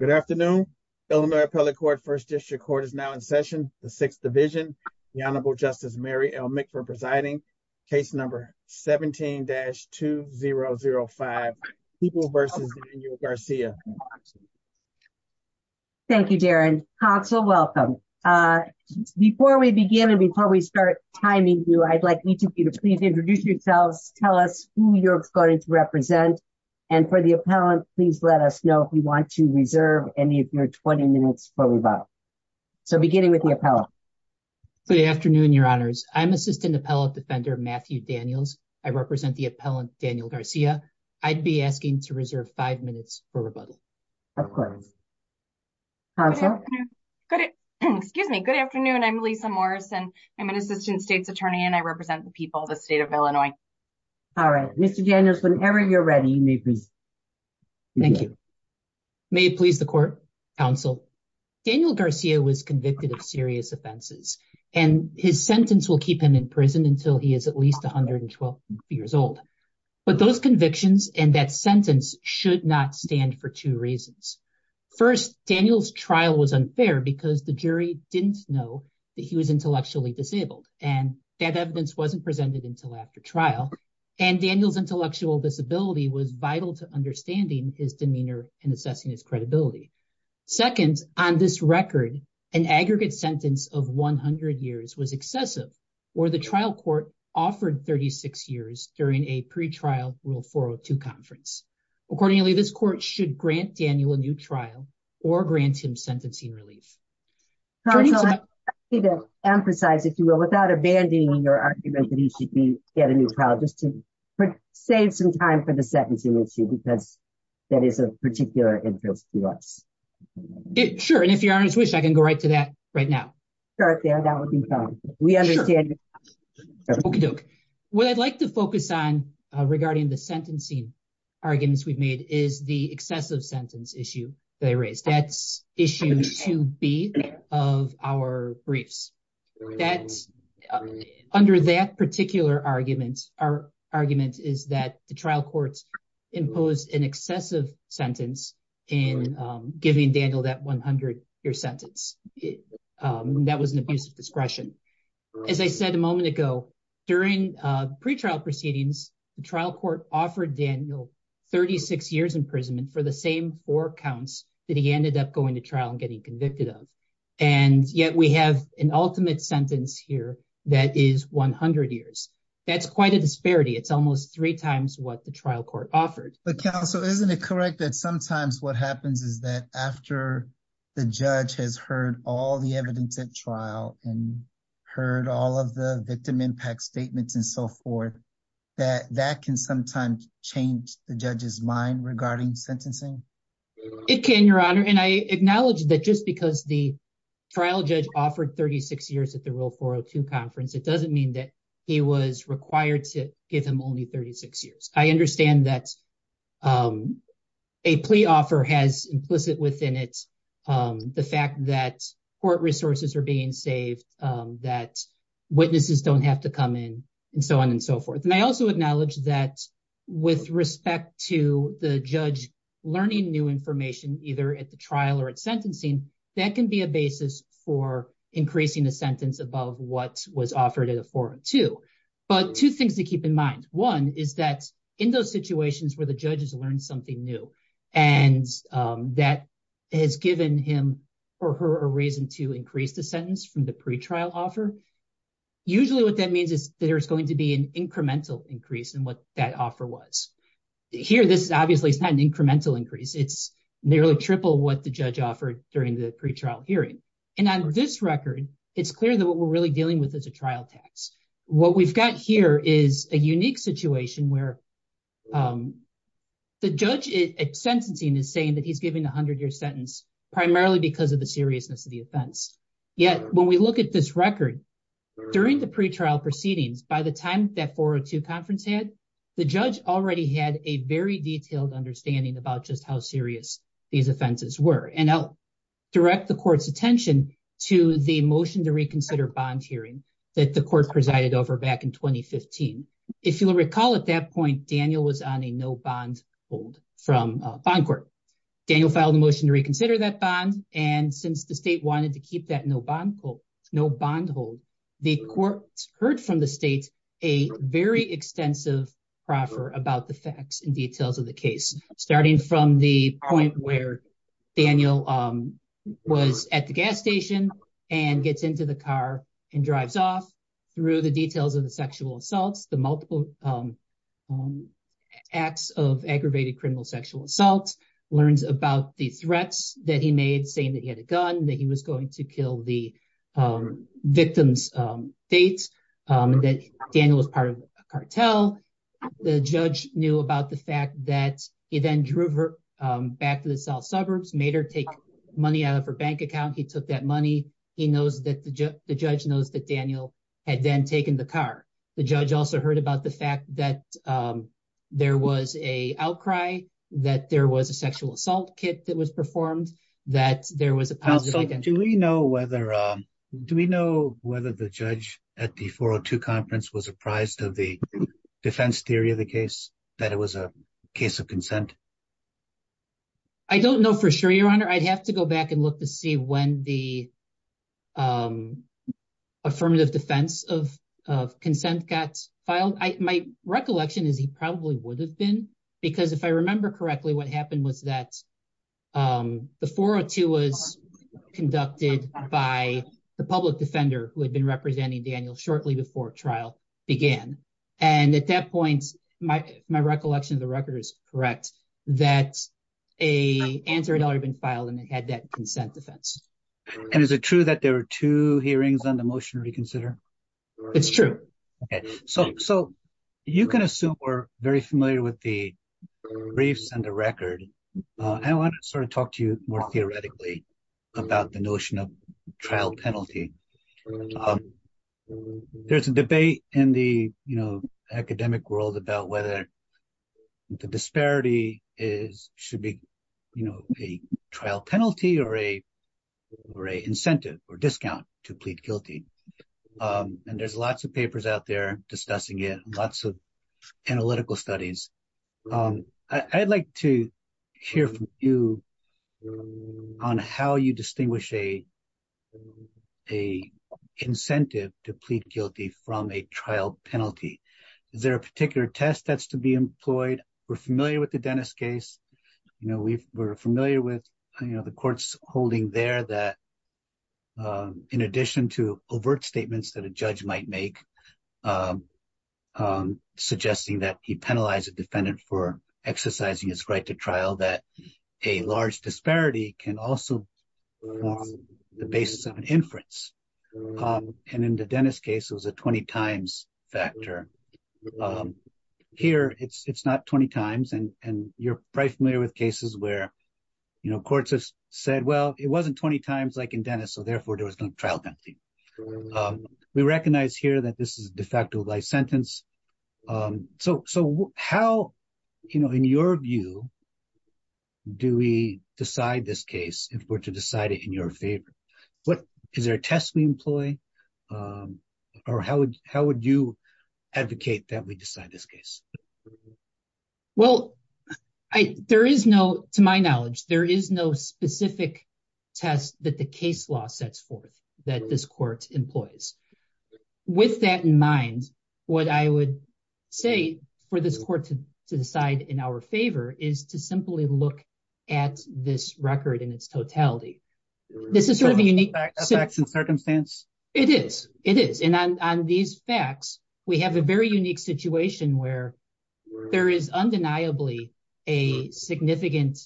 Good afternoon, Illinois appellate court first district court is now in session, the sixth division, the Honorable Justice Mary l make for presiding case number 17 dash 2005 people versus Garcia. Thank you, Darren console welcome. Before we begin and before we start timing you I'd like you to please introduce yourselves, tell us who you're going to represent. And for the appellant, please let us know if you want to reserve any of your 20 minutes for rebuttal. So beginning with the appellate. Good afternoon, Your Honors, I'm assistant appellate defender Matthew Daniels, I represent the appellant Daniel Garcia, I'd be asking to reserve five minutes for rebuttal. Of course. Good. Excuse me. Good afternoon. I'm Lisa Morrison. I'm an assistant state's attorney and I represent the people of the state of Illinois. All right, Mr Daniels whenever you're ready. Thank you. May it please the court counsel, Daniel Garcia was convicted of serious offenses, and his sentence will keep him in prison until he is at least 112 years old. But those convictions and that sentence should not stand for two reasons. First, Daniels trial was unfair because the jury didn't know that he was intellectually disabled, and that evidence wasn't presented until after trial, and Daniels intellectual disability was vital to understanding his demeanor and assessing his credibility. Second, on this record, an aggregate sentence of 100 years was excessive, or the trial court offered 36 years during a pre trial rule for to conference. Accordingly, this court should grant Daniel a new trial or grant him sentencing relief. Emphasize if you will without abandoning your argument that he should be get a new child just to save some time for the second issue because that is a particular interest to us. Sure, and if you're honest wish I can go right to that right now. We understand. What I'd like to focus on regarding the sentencing arguments we've made is the excessive sentence issue, they raised that issue to be of our briefs. Under that particular argument, our argument is that the trial courts impose an excessive sentence in giving Daniel that 100 year sentence. That was an abuse of discretion. As I said a moment ago, during pre trial proceedings, the trial court offered Daniel 36 years imprisonment for the same four counts that he ended up going to trial and getting convicted of. And yet we have an ultimate sentence here, that is 100 years. That's quite a disparity it's almost three times what the trial court offered. So isn't it correct that sometimes what happens is that after the judge has heard all the evidence at trial, and heard all of the victim impact statements and so forth, that that can sometimes change the judges mind regarding sentencing. It can Your Honor and I acknowledge that just because the trial judge offered 36 years at the real 402 conference, it doesn't mean that he was required to give him only 36 years, I understand that a plea offer has implicit within it. The fact that court resources are being saved, that witnesses don't have to come in, and so on and so forth. And I also acknowledge that with respect to the judge, learning new information, either at the trial or at sentencing, that can be a basis for increasing the sentence above what was offered at a 402. But two things to keep in mind. One is that in those situations where the judges learn something new, and that has given him or her a reason to increase the sentence from the pretrial offer. Usually what that means is that there's going to be an incremental increase in what that offer was. Here, this is obviously it's not an incremental increase, it's nearly triple what the judge offered during the pretrial hearing. And on this record, it's clear that what we're really dealing with is a trial tax. What we've got here is a unique situation where the judge at sentencing is saying that he's giving a hundred year sentence, primarily because of the seriousness of the offense. Yet, when we look at this record, during the pretrial proceedings, by the time that 402 conference had, the judge already had a very detailed understanding about just how serious these offenses were. And I'll direct the court's attention to the motion to reconsider bond hearing that the court presided over back in 2015. If you'll recall, at that point, Daniel was on a no bond hold from bond court. Daniel filed a motion to reconsider that bond, and since the state wanted to keep that no bond hold, the court heard from the state a very extensive proffer about the facts and details of the case. Starting from the point where Daniel was at the gas station and gets into the car and drives off, through the details of the sexual assaults, the multiple acts of aggravated criminal sexual assaults, learns about the threats that he made, saying that he had a gun, that he was going to kill the victim's date, that Daniel was part of a cartel. The judge knew about the fact that he then drove her back to the south suburbs, made her take money out of her bank account. He took that money. He knows that the judge knows that Daniel had then taken the car. The judge also heard about the fact that there was a outcry, that there was a sexual assault kit that was performed, that there was a positive. Do we know whether the judge at the 402 conference was apprised of the defense theory of the case, that it was a case of consent? I don't know for sure, Your Honor. I'd have to go back and look to see when the affirmative defense of consent got filed. My recollection is he probably would have been, because if I remember correctly, what happened was that the 402 was conducted by the public defender who had been representing Daniel shortly before trial began. And at that point, my recollection of the record is correct, that an answer had already been filed and it had that consent defense. And is it true that there were two hearings on the motion to reconsider? It's true. So you can assume we're very familiar with the briefs and the record. I want to sort of talk to you more theoretically about the notion of trial penalty. There's a debate in the academic world about whether the disparity should be a trial penalty or a incentive or discount to plead guilty. And there's lots of papers out there discussing it, lots of analytical studies. I'd like to hear from you on how you distinguish a incentive to plead guilty from a trial penalty. Is there a particular test that's to be employed? We're familiar with the Dennis case. We're familiar with the court's holding there that in addition to overt statements that a judge might make, suggesting that he penalized a defendant for exercising his right to trial, that a large disparity can also form the basis of an inference. And in the Dennis case, it was a 20 times factor. Here, it's not 20 times, and you're probably familiar with cases where courts have said, well, it wasn't 20 times like in Dennis, so therefore there was no trial penalty. We recognize here that this is a de facto life sentence. So how, in your view, do we decide this case if we're to decide it in your favor? Is there a test we employ, or how would you advocate that we decide this case? Well, there is no, to my knowledge, there is no specific test that the case law sets forth that this court employs. With that in mind, what I would say for this court to decide in our favor is to simply look at this record in its totality. This is sort of a unique circumstance. It is, it is. And on these facts, we have a very unique situation where there is undeniably a significant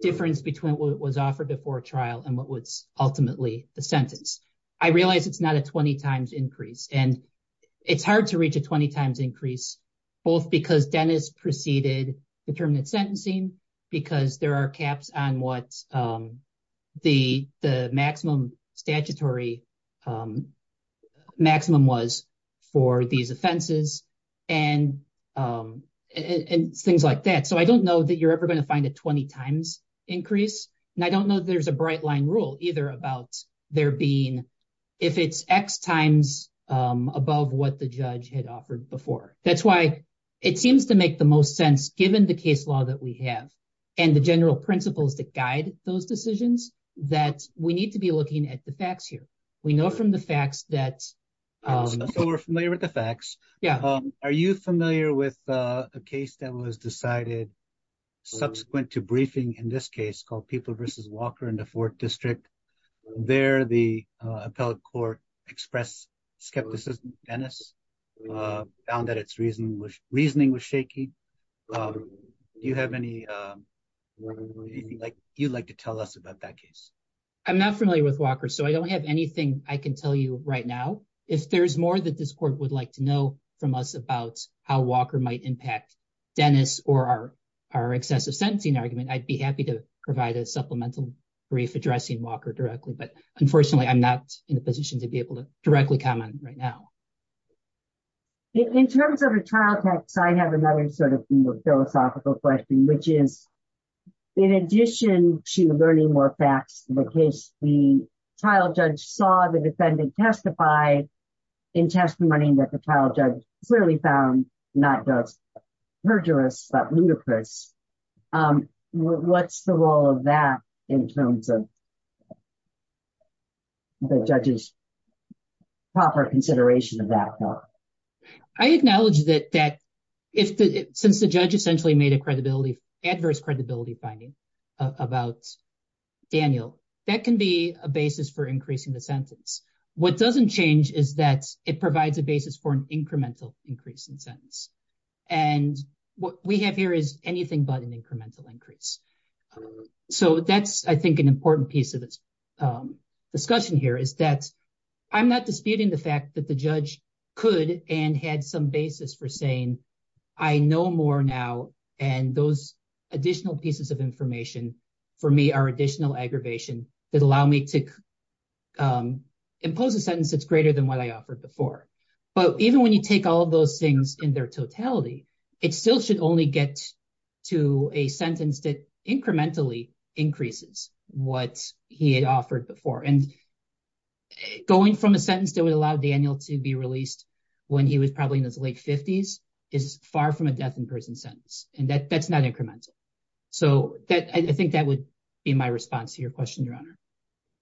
difference between what was offered before trial and what was ultimately the sentence. I realize it's not a 20 times increase, and it's hard to reach a 20 times increase, both because Dennis preceded determinate sentencing, because there are caps on what the maximum statutory maximum was for these offenses, and things like that. So I don't know that you're ever going to find a 20 times increase, and I don't know there's a bright line rule either about there being, if it's X times above what the judge had offered before. That's why it seems to make the most sense, given the case law that we have, and the general principles that guide those decisions, that we need to be looking at the facts here. We know from the facts that we're familiar with the facts. Yeah. Are you familiar with a case that was decided. Subsequent to briefing in this case called people versus Walker in the fourth district. There the appellate court express skepticism, Dennis found that it's reason which reasoning was shaky. You have any like you'd like to tell us about that case. I'm not familiar with Walker so I don't have anything I can tell you right now. If there's more that this court would like to know from us about how Walker might impact Dennis or our, our excessive sentencing argument I'd be happy to provide a supplemental brief addressing Walker directly but unfortunately I'm not in a position to be able to directly comment right now. In terms of a trial text I have another sort of philosophical question which is, in addition to learning more facts, the case, the trial judge saw the defendant testify in testimony that the trial judge clearly found not just perjurous but ludicrous. What's the role of that in terms of proper consideration of that. I acknowledge that that if, since the judge essentially made a credibility adverse credibility finding about Daniel, that can be a basis for increasing the sentence. What doesn't change is that it provides a basis for an incremental increase in sentence. And what we have here is anything but an incremental increase. So that's I think an important piece of this discussion here is that I'm not disputing the fact that the judge could and had some basis for saying, I know more now. And those additional pieces of information for me are additional aggravation that allow me to impose a sentence that's greater than what I offered before. But even when you take all of those things in their totality, it still should only get to a sentence that incrementally increases what he had offered before and going from a sentence that would allow Daniel to be released. When he was probably in his late 50s is far from a death in person sentence, and that that's not incremental. So that I think that would be my response to your question, Your Honor.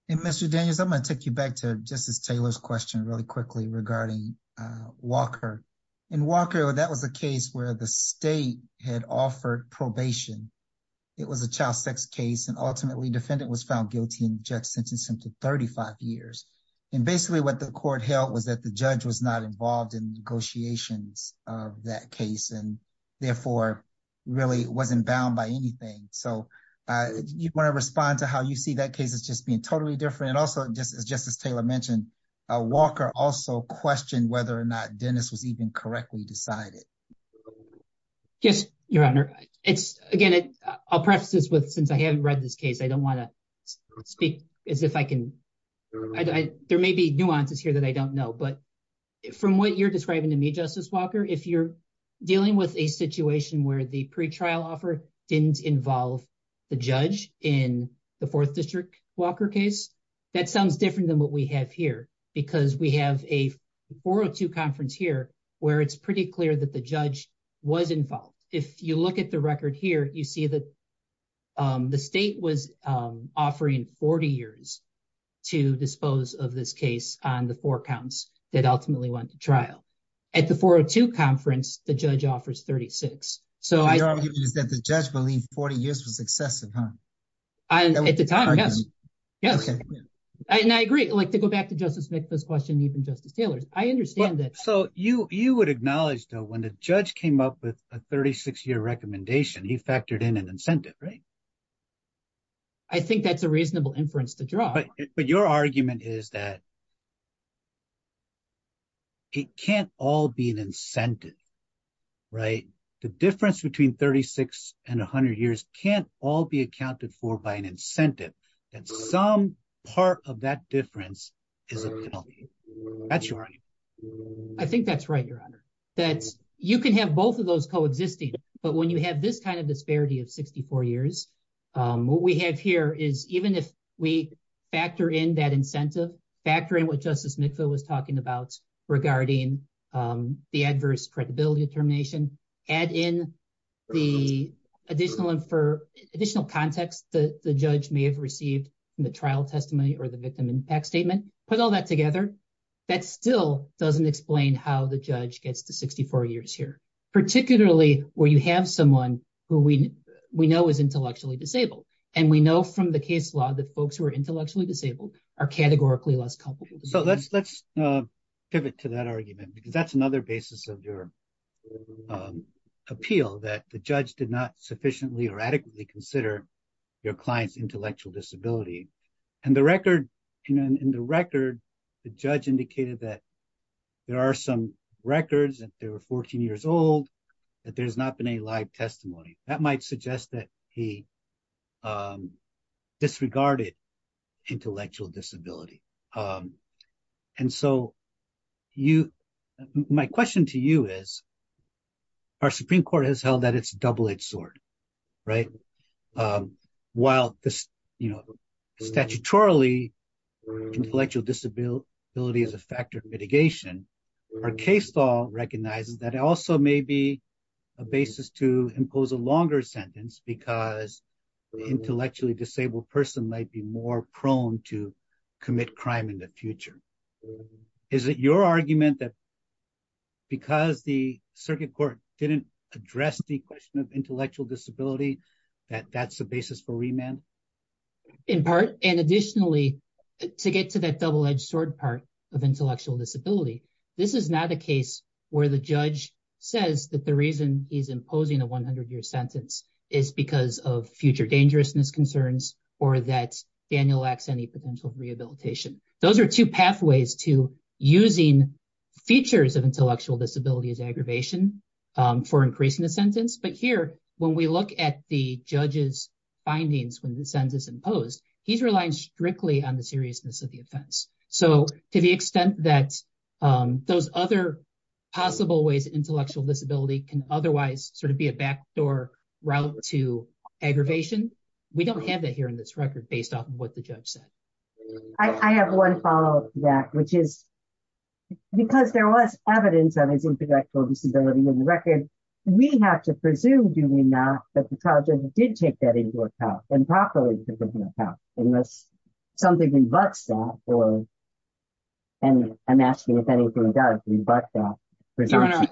And Mr. Daniels, I'm going to take you back to Justice Taylor's question really quickly regarding Walker and Walker. That was a case where the state had offered probation. It was a child sex case and ultimately defendant was found guilty and just sentencing to 35 years. And basically what the court held was that the judge was not involved in negotiations of that case and therefore really wasn't bound by anything. So you want to respond to how you see that case is just being totally different. Also, just as Justice Taylor mentioned, Walker also questioned whether or not Dennis was even correctly decided. Yes, Your Honor. It's again, I'll preface this with since I haven't read this case, I don't want to speak as if I can. There may be nuances here that I don't know, but from what you're describing to me, Justice Walker, if you're dealing with a situation where the pre trial offer didn't involve the judge in the 4th District Walker case. That sounds different than what we have here because we have a 402 conference here where it's pretty clear that the judge was involved. If you look at the record here, you see that the state was offering 40 years to dispose of this case on the four counts that ultimately went to trial. At the 402 conference, the judge offers 36. Your argument is that the judge believed 40 years was excessive, huh? At the time, yes. And I agree, to go back to Justice Smith's question, even Justice Taylor's, I understand that. So you would acknowledge though when the judge came up with a 36 year recommendation, he factored in an incentive, right? But your argument is that it can't all be an incentive, right? The difference between 36 and 100 years can't all be accounted for by an incentive. And some part of that difference is a penalty. That's your argument. I think that's right, Your Honor. You can have both of those coexisting. But when you have this kind of disparity of 64 years, what we have here is even if we factor in that incentive, factor in what Justice McPhill was talking about regarding the adverse credibility determination, add in the additional context that the judge may have received in the trial testimony or the victim impact statement, put all that together. That still doesn't explain how the judge gets to 64 years here, particularly where you have someone who we know is intellectually disabled. And we know from the case law that folks who are intellectually disabled are categorically less culpable. So let's pivot to that argument because that's another basis of your appeal, that the judge did not sufficiently or adequately consider your client's intellectual disability. And in the record, the judge indicated that there are some records that they were 14 years old, that there's not been any live testimony. That might suggest that he disregarded intellectual disability. And so, my question to you is, our Supreme Court has held that it's double-edged sword, right? While statutorily, intellectual disability is a factor of mitigation, our case law recognizes that it also may be a basis to impose a longer sentence because the intellectually disabled person might be more prone to commit crime in the future. Is it your argument that because the circuit court didn't address the question of intellectual disability, that that's the basis for remand? In part, and additionally, to get to that double-edged sword part of intellectual disability, this is not a case where the judge says that the reason he's imposing a 100-year sentence is because of future dangerousness concerns or that Daniel lacks any potential rehabilitation. Those are two pathways to using features of intellectual disability as aggravation for increasing the sentence. But here, when we look at the judge's findings when the sentence is imposed, he's relying strictly on the seriousness of the offense. So, to the extent that those other possible ways that intellectual disability can otherwise sort of be a backdoor route to aggravation, we don't have that here in this record based off of what the judge said. I have one follow-up to that, which is, because there was evidence of intellectual disability in the record, we have to presume, do we not, that the trial judge did take that into account, and properly take that into account, unless something rebuts that. I'm asking if anything does rebut that presumption.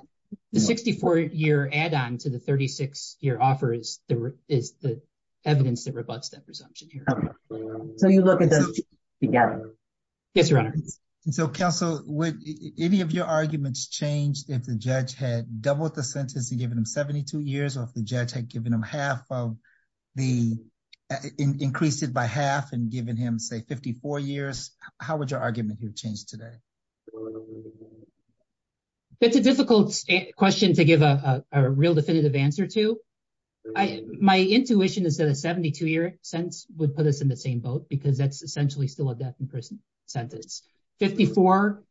The 64-year add-on to the 36-year offer is the evidence that rebuts that presumption. So you look at those two together. Yes, Your Honor. So, Counsel, would any of your arguments change if the judge had doubled the sentence and given him 72 years, or if the judge had given him half of the, increased it by half and given him, say, 54 years? How would your argument here change today? That's a difficult question to give a real definitive answer to. My intuition is that a 72-year sentence would put us in the same boat, because that's essentially still a death in prison sentence. 54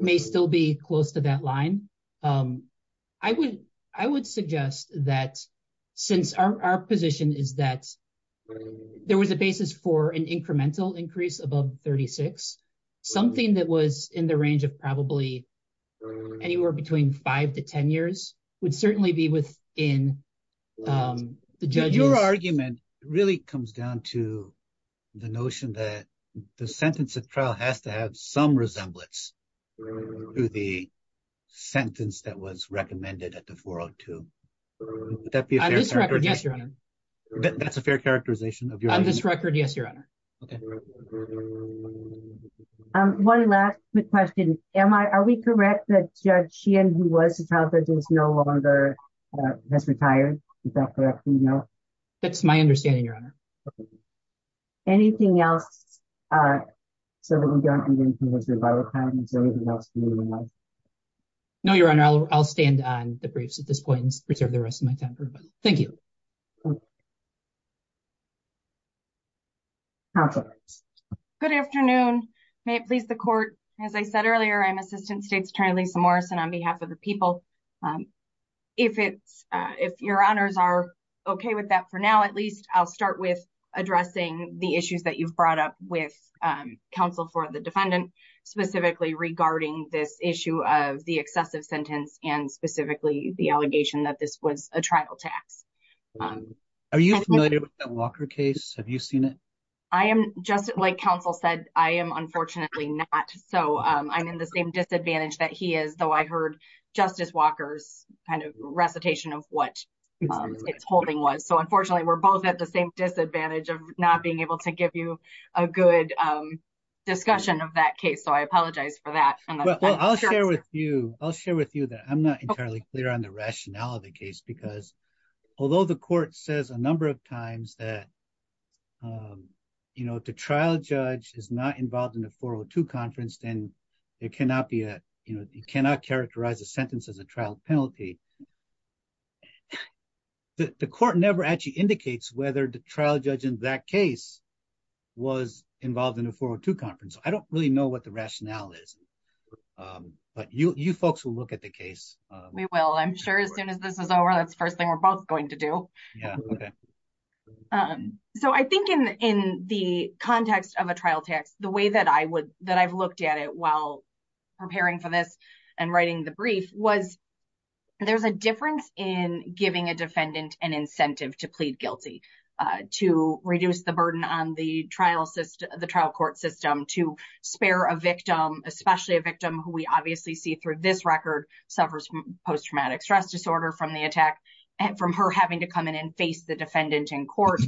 may still be close to that line. I would suggest that, since our position is that there was a basis for an incremental increase above 36, something that was in the range of probably anywhere between 5 to 10 years would certainly be within the judge's... The sentence that was recommended at the 402, would that be a fair characterization? On this record, yes, Your Honor. That's a fair characterization? On this record, yes, Your Honor. Okay. One last quick question. Am I, are we correct that Judge Sheehan, who was a child judge, is no longer, has retired? Is that correct? No. That's my understanding, Your Honor. Okay. Anything else? So we don't need to move to a vote time? Is there anything else you would like? No, Your Honor. I'll stand on the briefs at this point and preserve the rest of my time for everybody. Thank you. Counsel. Good afternoon. May it please the court. As I said earlier, I'm Assistant State's Attorney Lisa Morrison on behalf of the people. If it's, if Your Honors are okay with that for now, at least I'll start with addressing the issues that you've brought up with counsel for the defendant, specifically regarding this issue of the excessive sentence and specifically the allegation that this was a trial tax. Are you familiar with the Walker case? Have you seen it? I am just like counsel said, I am unfortunately not. So I'm in the same disadvantage that he is, though I heard Justice Walker's kind of recitation of what it's holding was. So unfortunately, we're both at the same disadvantage of not being able to give you a good discussion of that case. So I apologize for that. Well, I'll share with you, I'll share with you that I'm not entirely clear on the rationale of the case, because although the court says a number of times that, you know, the trial judge is not involved in a 402 conference, then it cannot be a, you know, you cannot characterize a sentence as a trial penalty. The court never actually indicates whether the trial judge in that case was involved in a 402 conference. I don't really know what the rationale is, but you folks will look at the case. We will, I'm sure as soon as this is over. That's the first thing we're both going to do. So I think in the context of a trial text, the way that I would that I've looked at it while preparing for this and writing the brief was there's a difference in giving a defendant an incentive to plead guilty to reduce the burden on the trial system, the trial court system to spare a victim, especially a victim who we obviously see through this record suffers from post traumatic stress disorder from the attack. And from her having to come in and face the defendant in court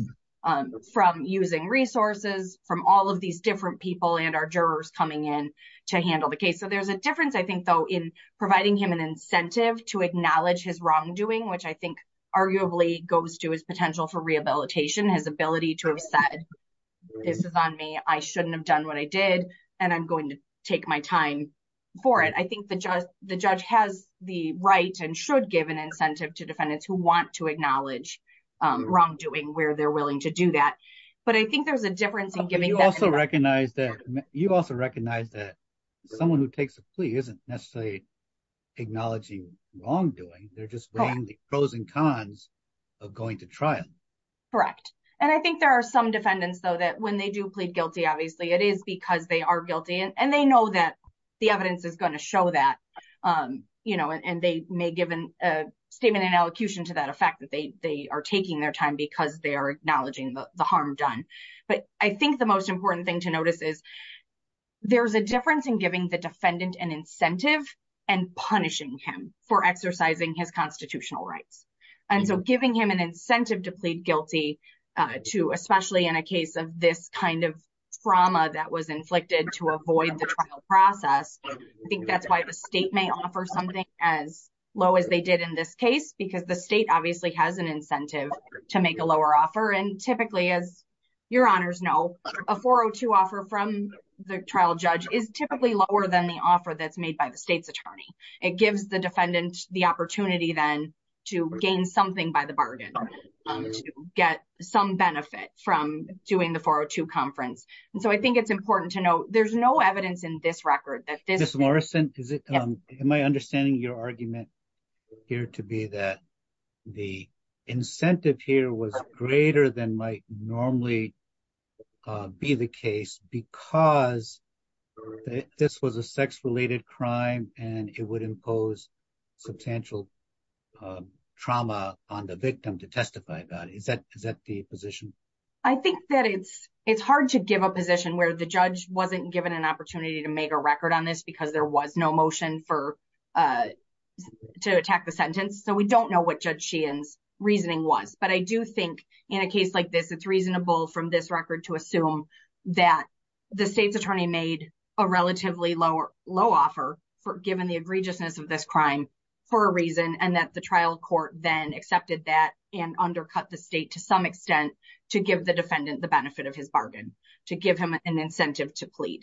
from using resources from all of these different people and our jurors coming in to handle the case. So there's a difference, I think, though, in providing him an incentive to acknowledge his wrongdoing, which I think arguably goes to his potential for rehabilitation, his ability to have said this is on me, I shouldn't have done what I did. And I'm going to take my time for it. I think the judge, the judge has the right and should give an incentive to defendants who want to acknowledge wrongdoing where they're willing to do that. But I think there's a difference in giving also recognize that you also recognize that someone who takes a plea isn't necessarily acknowledging wrongdoing. They're just playing the pros and cons of going to trial. Correct. And I think there are some defendants, though, that when they do plead guilty, obviously it is because they are guilty and they know that the evidence is going to show that, you know, and they may give a statement and allocution to that effect that they are taking their time because they are acknowledging the harm done. But I think the most important thing to notice is there's a difference in giving the defendant an incentive and punishing him for exercising his constitutional rights. And so giving him an incentive to plead guilty to especially in a case of this kind of trauma that was inflicted to avoid the trial process. I think that's why the state may offer something as low as they did in this case, because the state obviously has an incentive to make a lower offer. And typically, as your honors know, a 402 offer from the trial judge is typically lower than the offer that's made by the state's attorney. It gives the defendant the opportunity then to gain something by the bargain to get some benefit from doing the 402 conference. And so I think it's important to note there's no evidence in this record that this is. Morrison, is it my understanding your argument here to be that the incentive here was greater than might normally be the case because this was a sex related crime and it would impose substantial trauma on the victim to testify. Is that the position? I think that it's hard to give a position where the judge wasn't given an opportunity to make a record on this because there was no motion to attack the sentence. So we don't know what Judge Sheehan's reasoning was. But I do think in a case like this, it's reasonable from this record to assume that the state's attorney made a relatively low offer for given the egregiousness of this crime for a reason. And that the trial court then accepted that and undercut the state to some extent to give the defendant the benefit of his bargain to give him an incentive to plead.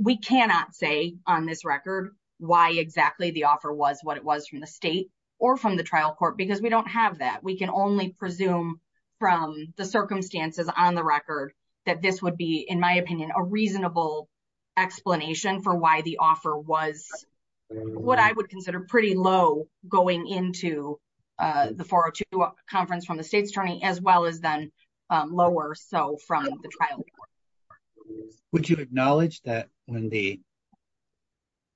We cannot say on this record why exactly the offer was what it was from the state or from the trial court because we don't have that. We can only presume from the circumstances on the record that this would be, in my opinion, a reasonable explanation for why the offer was what I would consider pretty low going into the 402 conference from the state's attorney as well as then lower. Would you acknowledge that when the,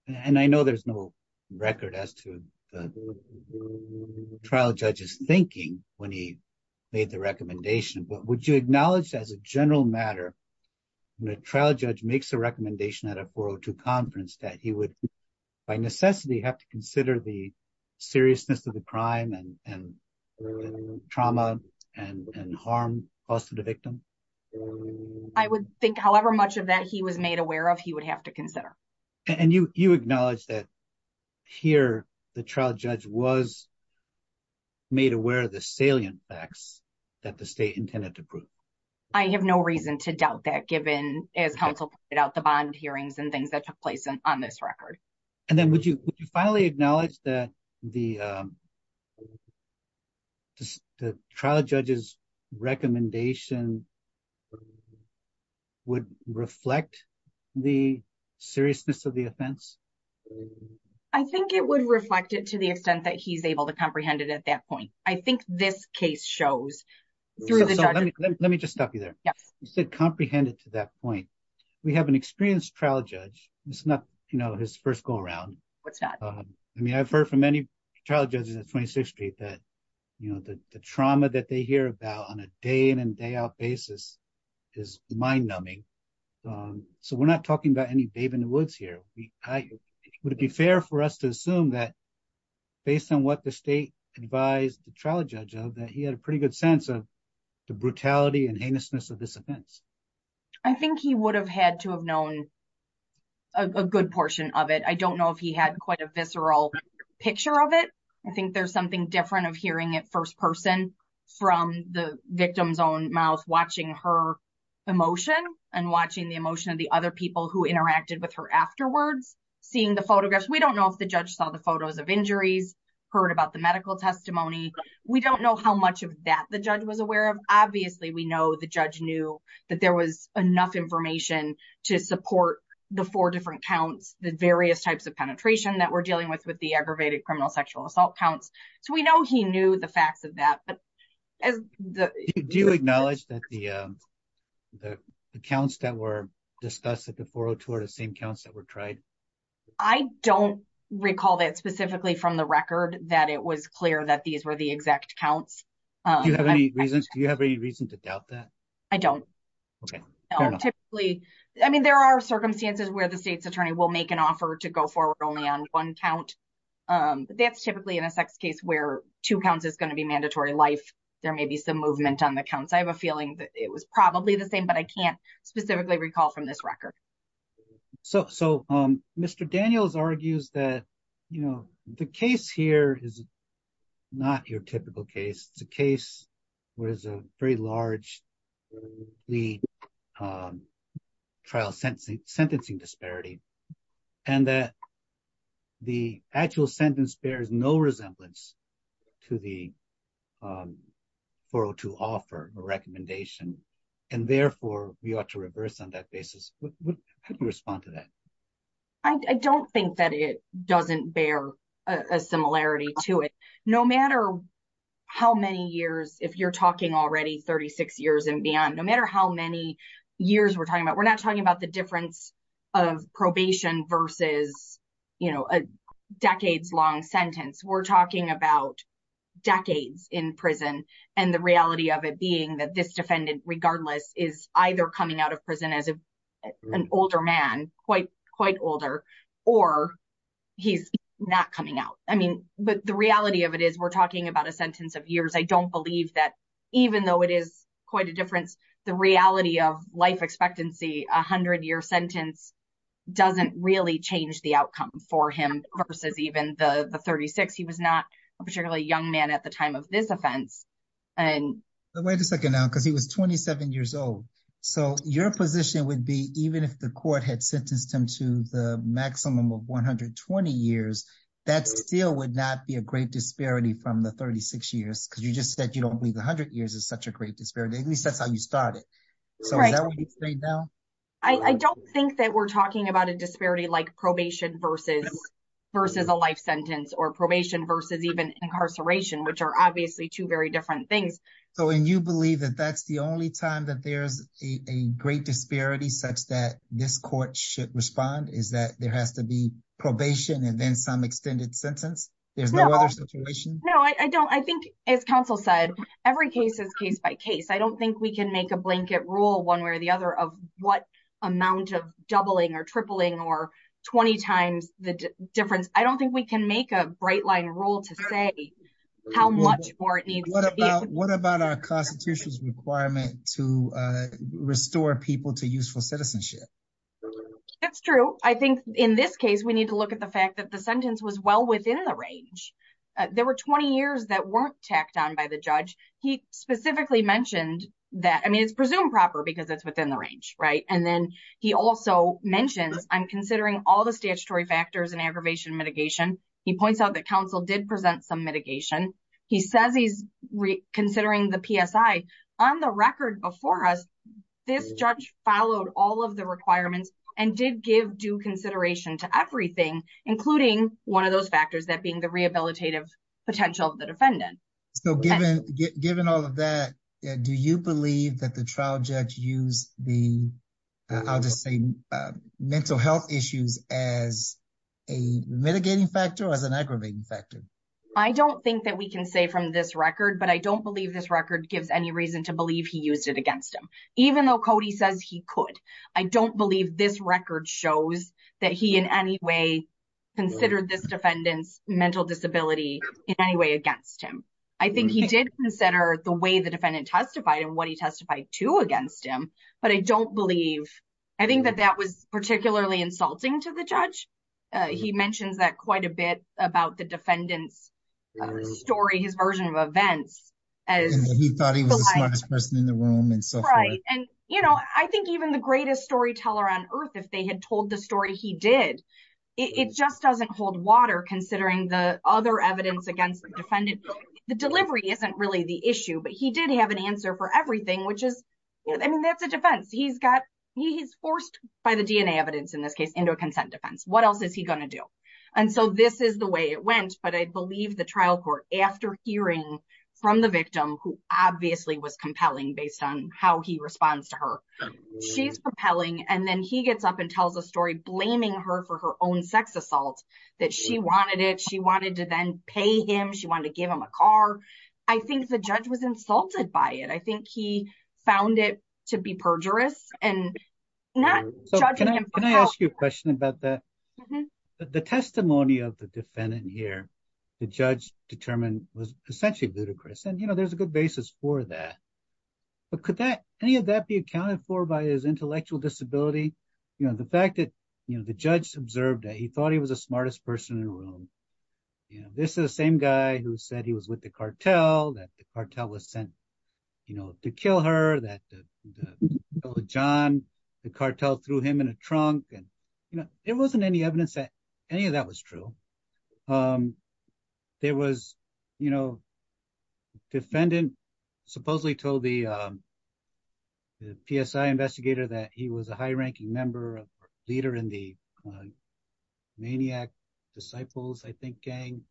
and I know there's no record as to the trial judge's thinking when he made the recommendation, but would you acknowledge as a general matter, when a trial judge makes a recommendation at a 402 conference that he would, by necessity, have to consider the seriousness of the crime and trauma and harm caused to the victim? I would think however much of that he was made aware of, he would have to consider. And you acknowledge that here the trial judge was made aware of the salient facts that the state intended to prove? I have no reason to doubt that given, as counsel pointed out, the bond hearings and things that took place on this record. And then would you finally acknowledge that the trial judge's recommendation would reflect the seriousness of the offense? I think it would reflect it to the extent that he's able to comprehend it at that point. I think this case shows through the judge. Let me just stop you there. Yes. I think that he did comprehend it to that point. We have an experienced trial judge. It's not, you know, his first go around. What's that? I mean, I've heard from any trial judges at 26th Street that, you know, the trauma that they hear about on a day in and day out basis is mind numbing. So we're not talking about any babe in the woods here. Would it be fair for us to assume that based on what the state advised the trial judge of that he had a pretty good sense of the brutality and heinousness of this offense? I think he would have had to have known a good portion of it. I don't know if he had quite a visceral picture of it. I think there's something different of hearing it first person from the victim's own mouth, watching her emotion and watching the emotion of the other people who interacted with her afterwards, seeing the photographs. We don't know if the judge saw the photos of injuries, heard about the medical testimony. We don't know how much of that the judge was aware of. Obviously, we know the judge knew that there was enough information to support the four different counts, the various types of penetration that we're dealing with, with the aggravated criminal sexual assault counts. So we know he knew the facts of that. Do you acknowledge that the counts that were discussed at the 402 are the same counts that were tried? I don't recall that specifically from the record that it was clear that these were the exact counts. Do you have any reason to doubt that? I don't. I mean, there are circumstances where the state's attorney will make an offer to go forward only on one count. That's typically in a sex case where two counts is going to be mandatory life. There may be some movement on the counts. I have a feeling that it was probably the same, but I can't specifically recall from this record. So, Mr. Daniels argues that, you know, the case here is not your typical case. It's a case where there's a very large trial sentencing disparity, and that the actual sentence bears no resemblance to the 402 offer or recommendation, and therefore, we ought to reverse on that basis. How do you respond to that? I don't think that it doesn't bear a similarity to it. No matter how many years, if you're talking already 36 years and beyond, no matter how many years we're talking about, we're not talking about the difference of probation versus, you know, a decades long sentence. We're talking about decades in prison, and the reality of it being that this defendant, regardless, is either coming out of prison as an older man, quite older, or he's not coming out. I mean, but the reality of it is we're talking about a sentence of years. I don't believe that even though it is quite a difference, the reality of life expectancy, a hundred year sentence, doesn't really change the outcome for him versus even the 36. He was not a particularly young man at the time of this offense. Wait a second now, because he was 27 years old. So your position would be, even if the court had sentenced him to the maximum of 120 years, that still would not be a great disparity from the 36 years, because you just said you don't believe a hundred years is such a great disparity. At least that's how you started. I don't think that we're talking about a disparity like probation versus versus a life sentence or probation versus even incarceration, which are obviously two very different things. So, and you believe that that's the only time that there's a great disparity such that this court should respond is that there has to be probation and then some extended sentence. There's no other situation. No, I don't. I think as counsel said, every case is case by case. I don't think we can make a blanket rule one way or the other of what amount of doubling or tripling or 20 times the difference. I don't think we can make a bright line rule to say how much more it needs. What about what about our constitution's requirement to restore people to useful citizenship. It's true. I think in this case, we need to look at the fact that the sentence was well within the range. There were 20 years that weren't tacked on by the judge. He specifically mentioned that. I mean, it's presumed proper because it's within the range. Right. This judge followed all of the requirements and did give due consideration to everything, including 1 of those factors that being the rehabilitative potential of the defendant. So, given given all of that, do you believe that the trial judge use the. I'll just say mental health issues as a mitigating factor as an aggravating factor. I don't think that we can say from this record, but I don't believe this record gives any reason to believe he used it against him, even though Cody says he could. I don't believe this record shows that he in any way. Consider this defendant's mental disability in any way against him. I think he did consider the way the defendant testified and what he testified to against him, but I don't believe. I think that that was particularly insulting to the judge. He mentions that quite a bit about the defendant's story, his version of events. As he thought he was the smartest person in the room and so right. And I think even the greatest storyteller on Earth, if they had told the story, he did. It just doesn't hold water considering the other evidence against the defendant. The delivery isn't really the issue, but he did have an answer for everything, which is, I mean, that's a defense. He's got he's forced by the DNA evidence in this case into a consent defense. What else is he going to do? And so this is the way it went, but I believe the trial court after hearing from the victim who obviously was compelling based on how he responds to her. She's propelling and then he gets up and tells a story blaming her for her own sex assault that she wanted it. She wanted to then pay him. She wanted to give him a car. I think the judge was insulted by it. I think he found it to be perjurous and not judging him. Can I ask you a question about that? The testimony of the defendant here, the judge determined was essentially ludicrous. And, you know, there's a good basis for that. But could that any of that be accounted for by his intellectual disability? You know, the fact that, you know, the judge observed that he thought he was the smartest person in the room. This is the same guy who said he was with the cartel, that the cartel was sent, you know, to kill her, that John, the cartel threw him in a trunk. And, you know, there wasn't any evidence that any of that was true. There was, you know, defendant supposedly told the PSI investigator that he was a high ranking member of the leader in the maniac disciples, I think gang.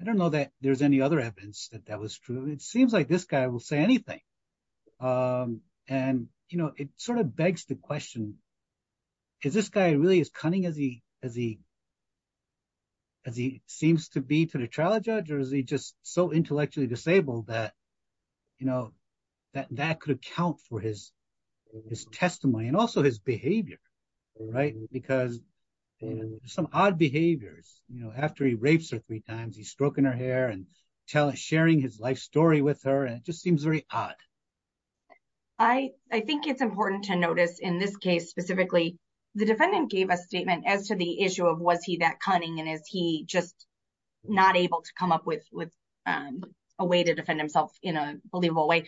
I don't know that there's any other evidence that that was true. It seems like this guy will say anything. And, you know, it sort of begs the question. Is this guy really as cunning as he seems to be to the trial judge or is he just so intellectually disabled that, you know, that that could account for his testimony and also his behavior. Because some odd behaviors, you know, after he rapes her three times, he's stroking her hair and telling sharing his life story with her. And it just seems very odd. I think it's important to notice in this case, specifically, the defendant gave a statement as to the issue of was he that cunning and is he just not able to come up with a way to defend himself in a believable way.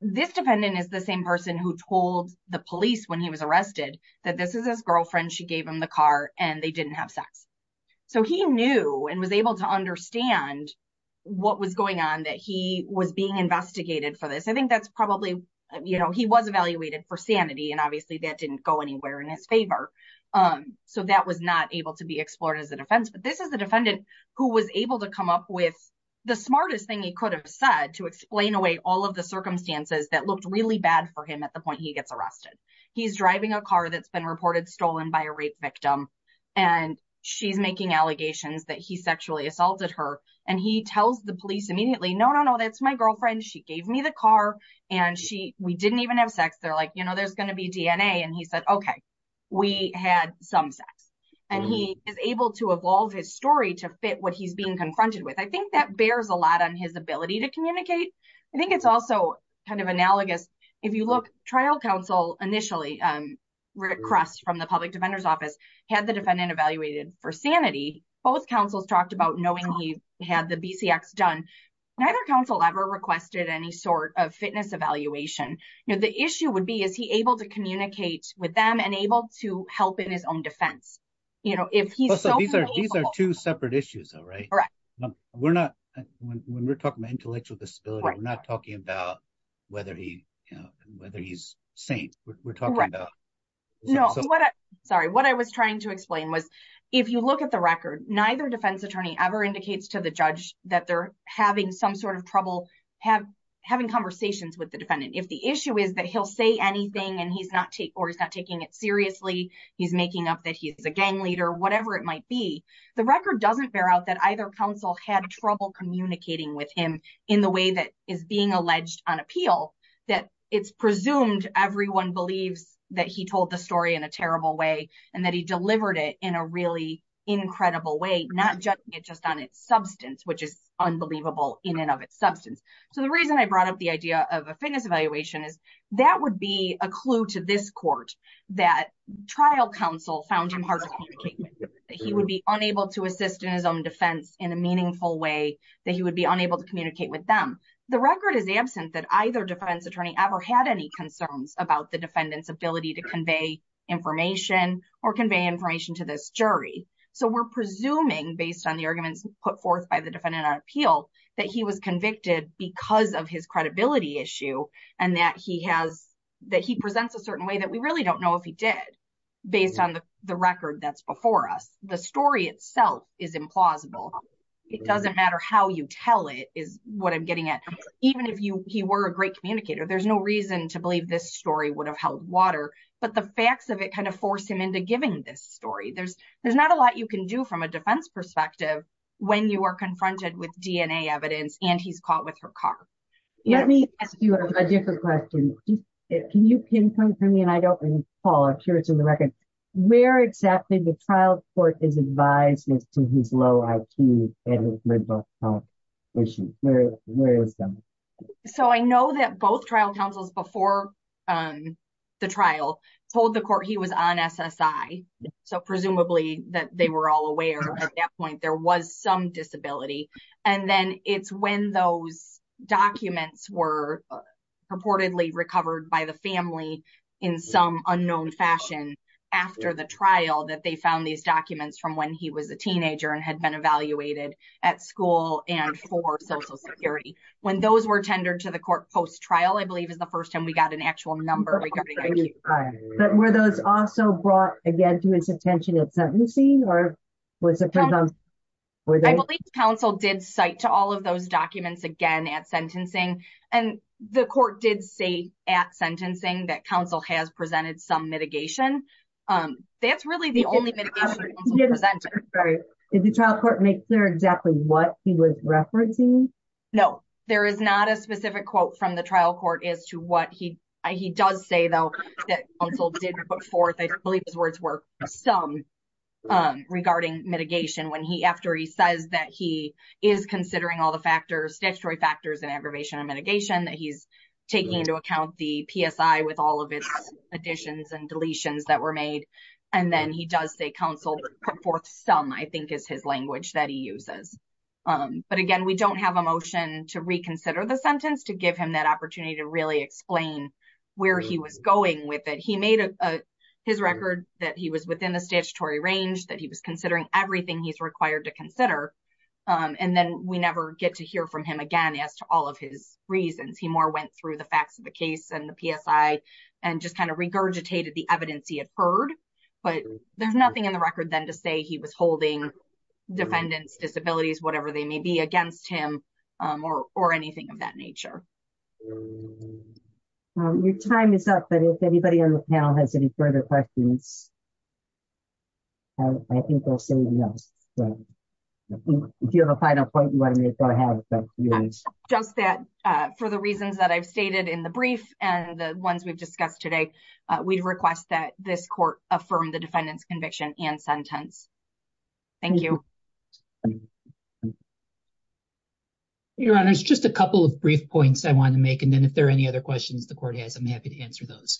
This defendant is the same person who told the police when he was arrested that this is his girlfriend. She gave him the car and they didn't have sex. So he knew and was able to understand what was going on, that he was being investigated for this. I think that's probably, you know, he was evaluated for sanity and obviously that didn't go anywhere in his favor. So that was not able to be explored as a defense. But this is the defendant who was able to come up with the smartest thing he could have said to explain away all of the circumstances that looked really bad for him at the point he gets arrested. He's driving a car that's been reported stolen by a rape victim, and she's making allegations that he sexually assaulted her. And he tells the police immediately, no, no, no, that's my girlfriend. She gave me the car and she we didn't even have sex. They're like, you know, there's going to be DNA. And he said, OK, we had some sex and he is able to evolve his story to fit what he's being confronted with. I think that bears a lot on his ability to communicate. I think it's also kind of analogous. If you look, trial counsel initially requests from the public defender's office had the defendant evaluated for sanity. Both counsels talked about knowing he had the BCX done. Neither counsel ever requested any sort of fitness evaluation. The issue would be, is he able to communicate with them and able to help in his own defense? These are two separate issues, right? When we're talking about intellectual disability, we're not talking about whether he's sane. No, sorry. What I was trying to explain was, if you look at the record, neither defense attorney ever indicates to the judge that they're having some sort of trouble having conversations with the defendant. If the issue is that he'll say anything and he's not or he's not taking it seriously, he's making up that he's a gang leader, whatever it might be. The record doesn't bear out that either counsel had trouble communicating with him in the way that is being alleged on appeal. It's presumed everyone believes that he told the story in a terrible way and that he delivered it in a really incredible way, not just on its substance, which is unbelievable in and of its substance. The reason I brought up the idea of a fitness evaluation is that would be a clue to this court that trial counsel found him hard to communicate with. He would be unable to assist in his own defense in a meaningful way that he would be unable to communicate with them. The record is absent that either defense attorney ever had any concerns about the defendant's ability to convey information or convey information to this jury. So we're presuming based on the arguments put forth by the defendant on appeal that he was convicted because of his credibility issue and that he has that he presents a certain way that we really don't know if he did based on the record that's before us. The story itself is implausible. It doesn't matter how you tell it is what I'm getting at. Even if you were a great communicator there's no reason to believe this story would have held water, but the facts of it kind of forced him into giving this story there's there's not a lot you can do from a defense perspective. When you are confronted with DNA evidence and he's caught with her car. Let me ask you a different question. Can you pinpoint for me and I don't know, Paul I'm sure it's in the record, where exactly the trial court is advised to his low IQ. So I know that both trial counsels before the trial told the court he was on SSI. So presumably that they were all aware at that point there was some disability. And then it's when those documents were purportedly recovered by the family in some unknown fashion. After the trial that they found these documents from when he was a teenager and had been evaluated at school, and for social security. When those were tendered to the court post trial I believe is the first time we got an actual number. But were those also brought again to his attention at sentencing or was it. I believe counsel did cite to all of those documents again at sentencing, and the court did say at sentencing that counsel has presented some mitigation. That's really the only thing. Is the trial court make clear exactly what he was referencing. No, there is not a specific quote from the trial court as to what he, he does say though that also did put forth I believe his words were some regarding mitigation when he after he says that he is considering all the factors statutory factors and aggravation and mitigation that he's taking into account the PSI with all of its additions and deletions that were made. And then he does say counsel put forth some I think is his language that he uses. But again, we don't have a motion to reconsider the sentence to give him that opportunity to really explain where he was going with it. He made his record that he was within the statutory range that he was considering everything he's required to consider. And then we never get to hear from him again as to all of his reasons he more went through the facts of the case and the PSI, and just kind of regurgitated the evidence he had heard, but there's nothing in the record then to say he was holding defendants disabilities, whatever they may be against him, or, or anything of that nature. Your time is up but if anybody on the panel has any further questions. I think we'll say yes. If you have a final point you want to make I have just that, for the reasons that I've stated in the brief, and the ones we've discussed today, we'd request that this court, affirm the defendants conviction and sentence. Thank you. Your Honor, it's just a couple of brief points I want to make and then if there are any other questions the court has I'm happy to answer those.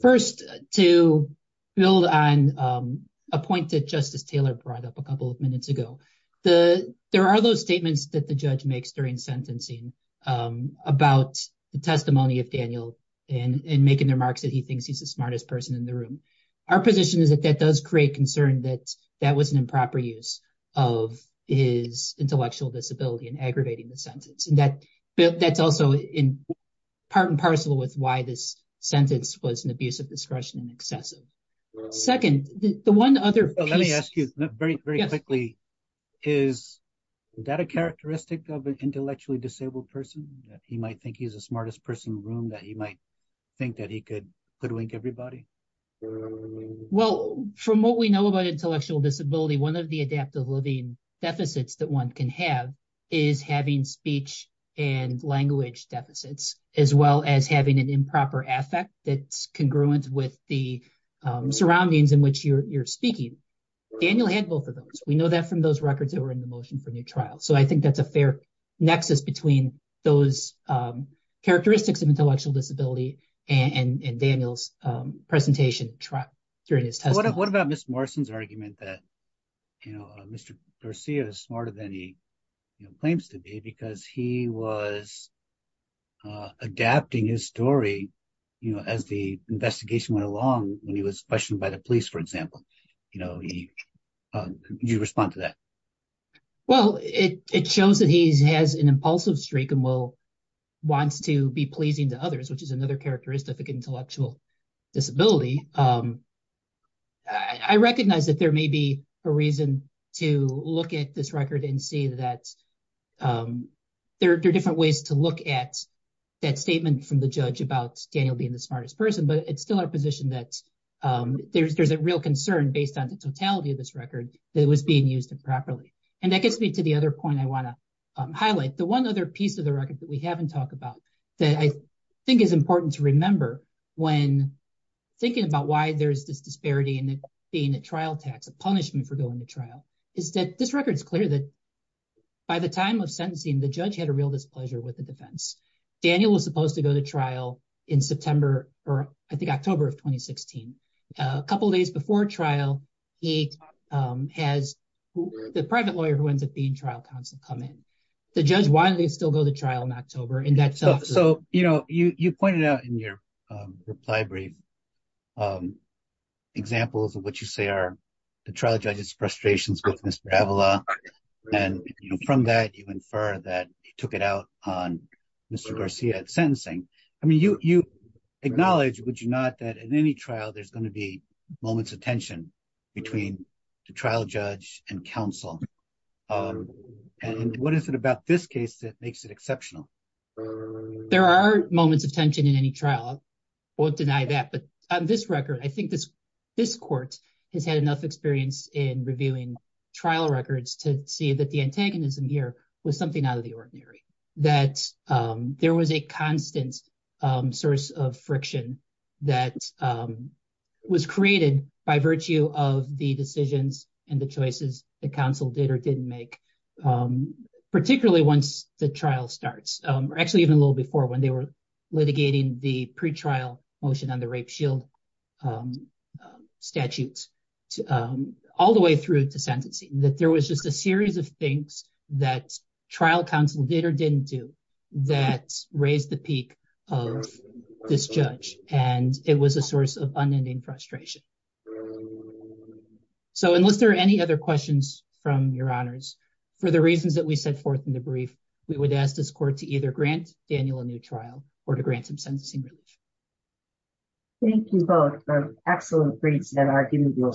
First, to build on a point that Justice Taylor brought up a couple of minutes ago, the, there are those statements that the judge makes during sentencing about the testimony of Daniel, and making remarks that he thinks he's the smartest person in the room. Our position is that that does create concern that that was an improper use of his intellectual disability and aggravating the sentence and that that's also in part and parcel with why this sentence was an abuse of discretion and excessive. Second, the one other let me ask you very quickly. Is that a characteristic of an intellectually disabled person that he might think he's the smartest person room that he might think that he could could link everybody. Well, from what we know about intellectual disability one of the adaptive living deficits that one can have is having speech and language deficits, as well as having an improper affect that's congruent with the surroundings in which you're speaking. Daniel had both of those, we know that from those records that were in the motion for new trial so I think that's a fair nexus between those characteristics of intellectual disability and Daniel's presentation track during his test. What about Miss Morrison's argument that, you know, Mr. Garcia is smarter than he claims to be because he was adapting his story, you know, as the investigation went along, when he was questioned by the police for example, you know, you respond to that. Well, it shows that he's has an impulsive streak and will wants to be pleasing to others, which is another characteristic intellectual disability. I recognize that there may be a reason to look at this record and see that there are different ways to look at that statement from the judge about Daniel being the smartest person but it's still our position that there's there's a real concern based on the totality of this record that was being used improperly. And that gets me to the other point I want to highlight the one other piece of the record that we haven't talked about that I think is important to remember when thinking about why there's this disparity and being a trial tax a punishment for going to trial is that this record is clear that by the time of sentencing the judge had a real displeasure with the defense. Daniel was supposed to go to trial in September, or I think October of 2016, a couple days before trial. He has the private lawyer who ends up being trial counsel come in the judge why they still go to trial in October and that's so you know you pointed out in your reply brief examples of what you say are the trial judges frustrations with Mr. And from that you infer that he took it out on Mr. Garcia at sentencing. I mean you, you acknowledge would you not that in any trial there's going to be moments of tension between the trial judge and counsel. And what is it about this case that makes it exceptional. There are moments of tension in any trial won't deny that but on this record I think this this court has had enough experience in reviewing trial records to see that the antagonism here was something out of the ordinary, that there was a constant source of friction that was created by virtue of the decisions and the choices, the council did or didn't make. Particularly once the trial starts, or actually even a little before when they were litigating the pre trial motion on the rape shield statutes to all the way through to sentencing that there was just a series of things that trial counsel did or didn't do that raised the peak of this judge, and it was a source of unending frustration. So unless there are any other questions from your honors. For the reasons that we set forth in the brief, we would ask this court to either grant Daniel a new trial, or to grant some sentencing relief. Thank you both for excellent briefs and arguing your sentence.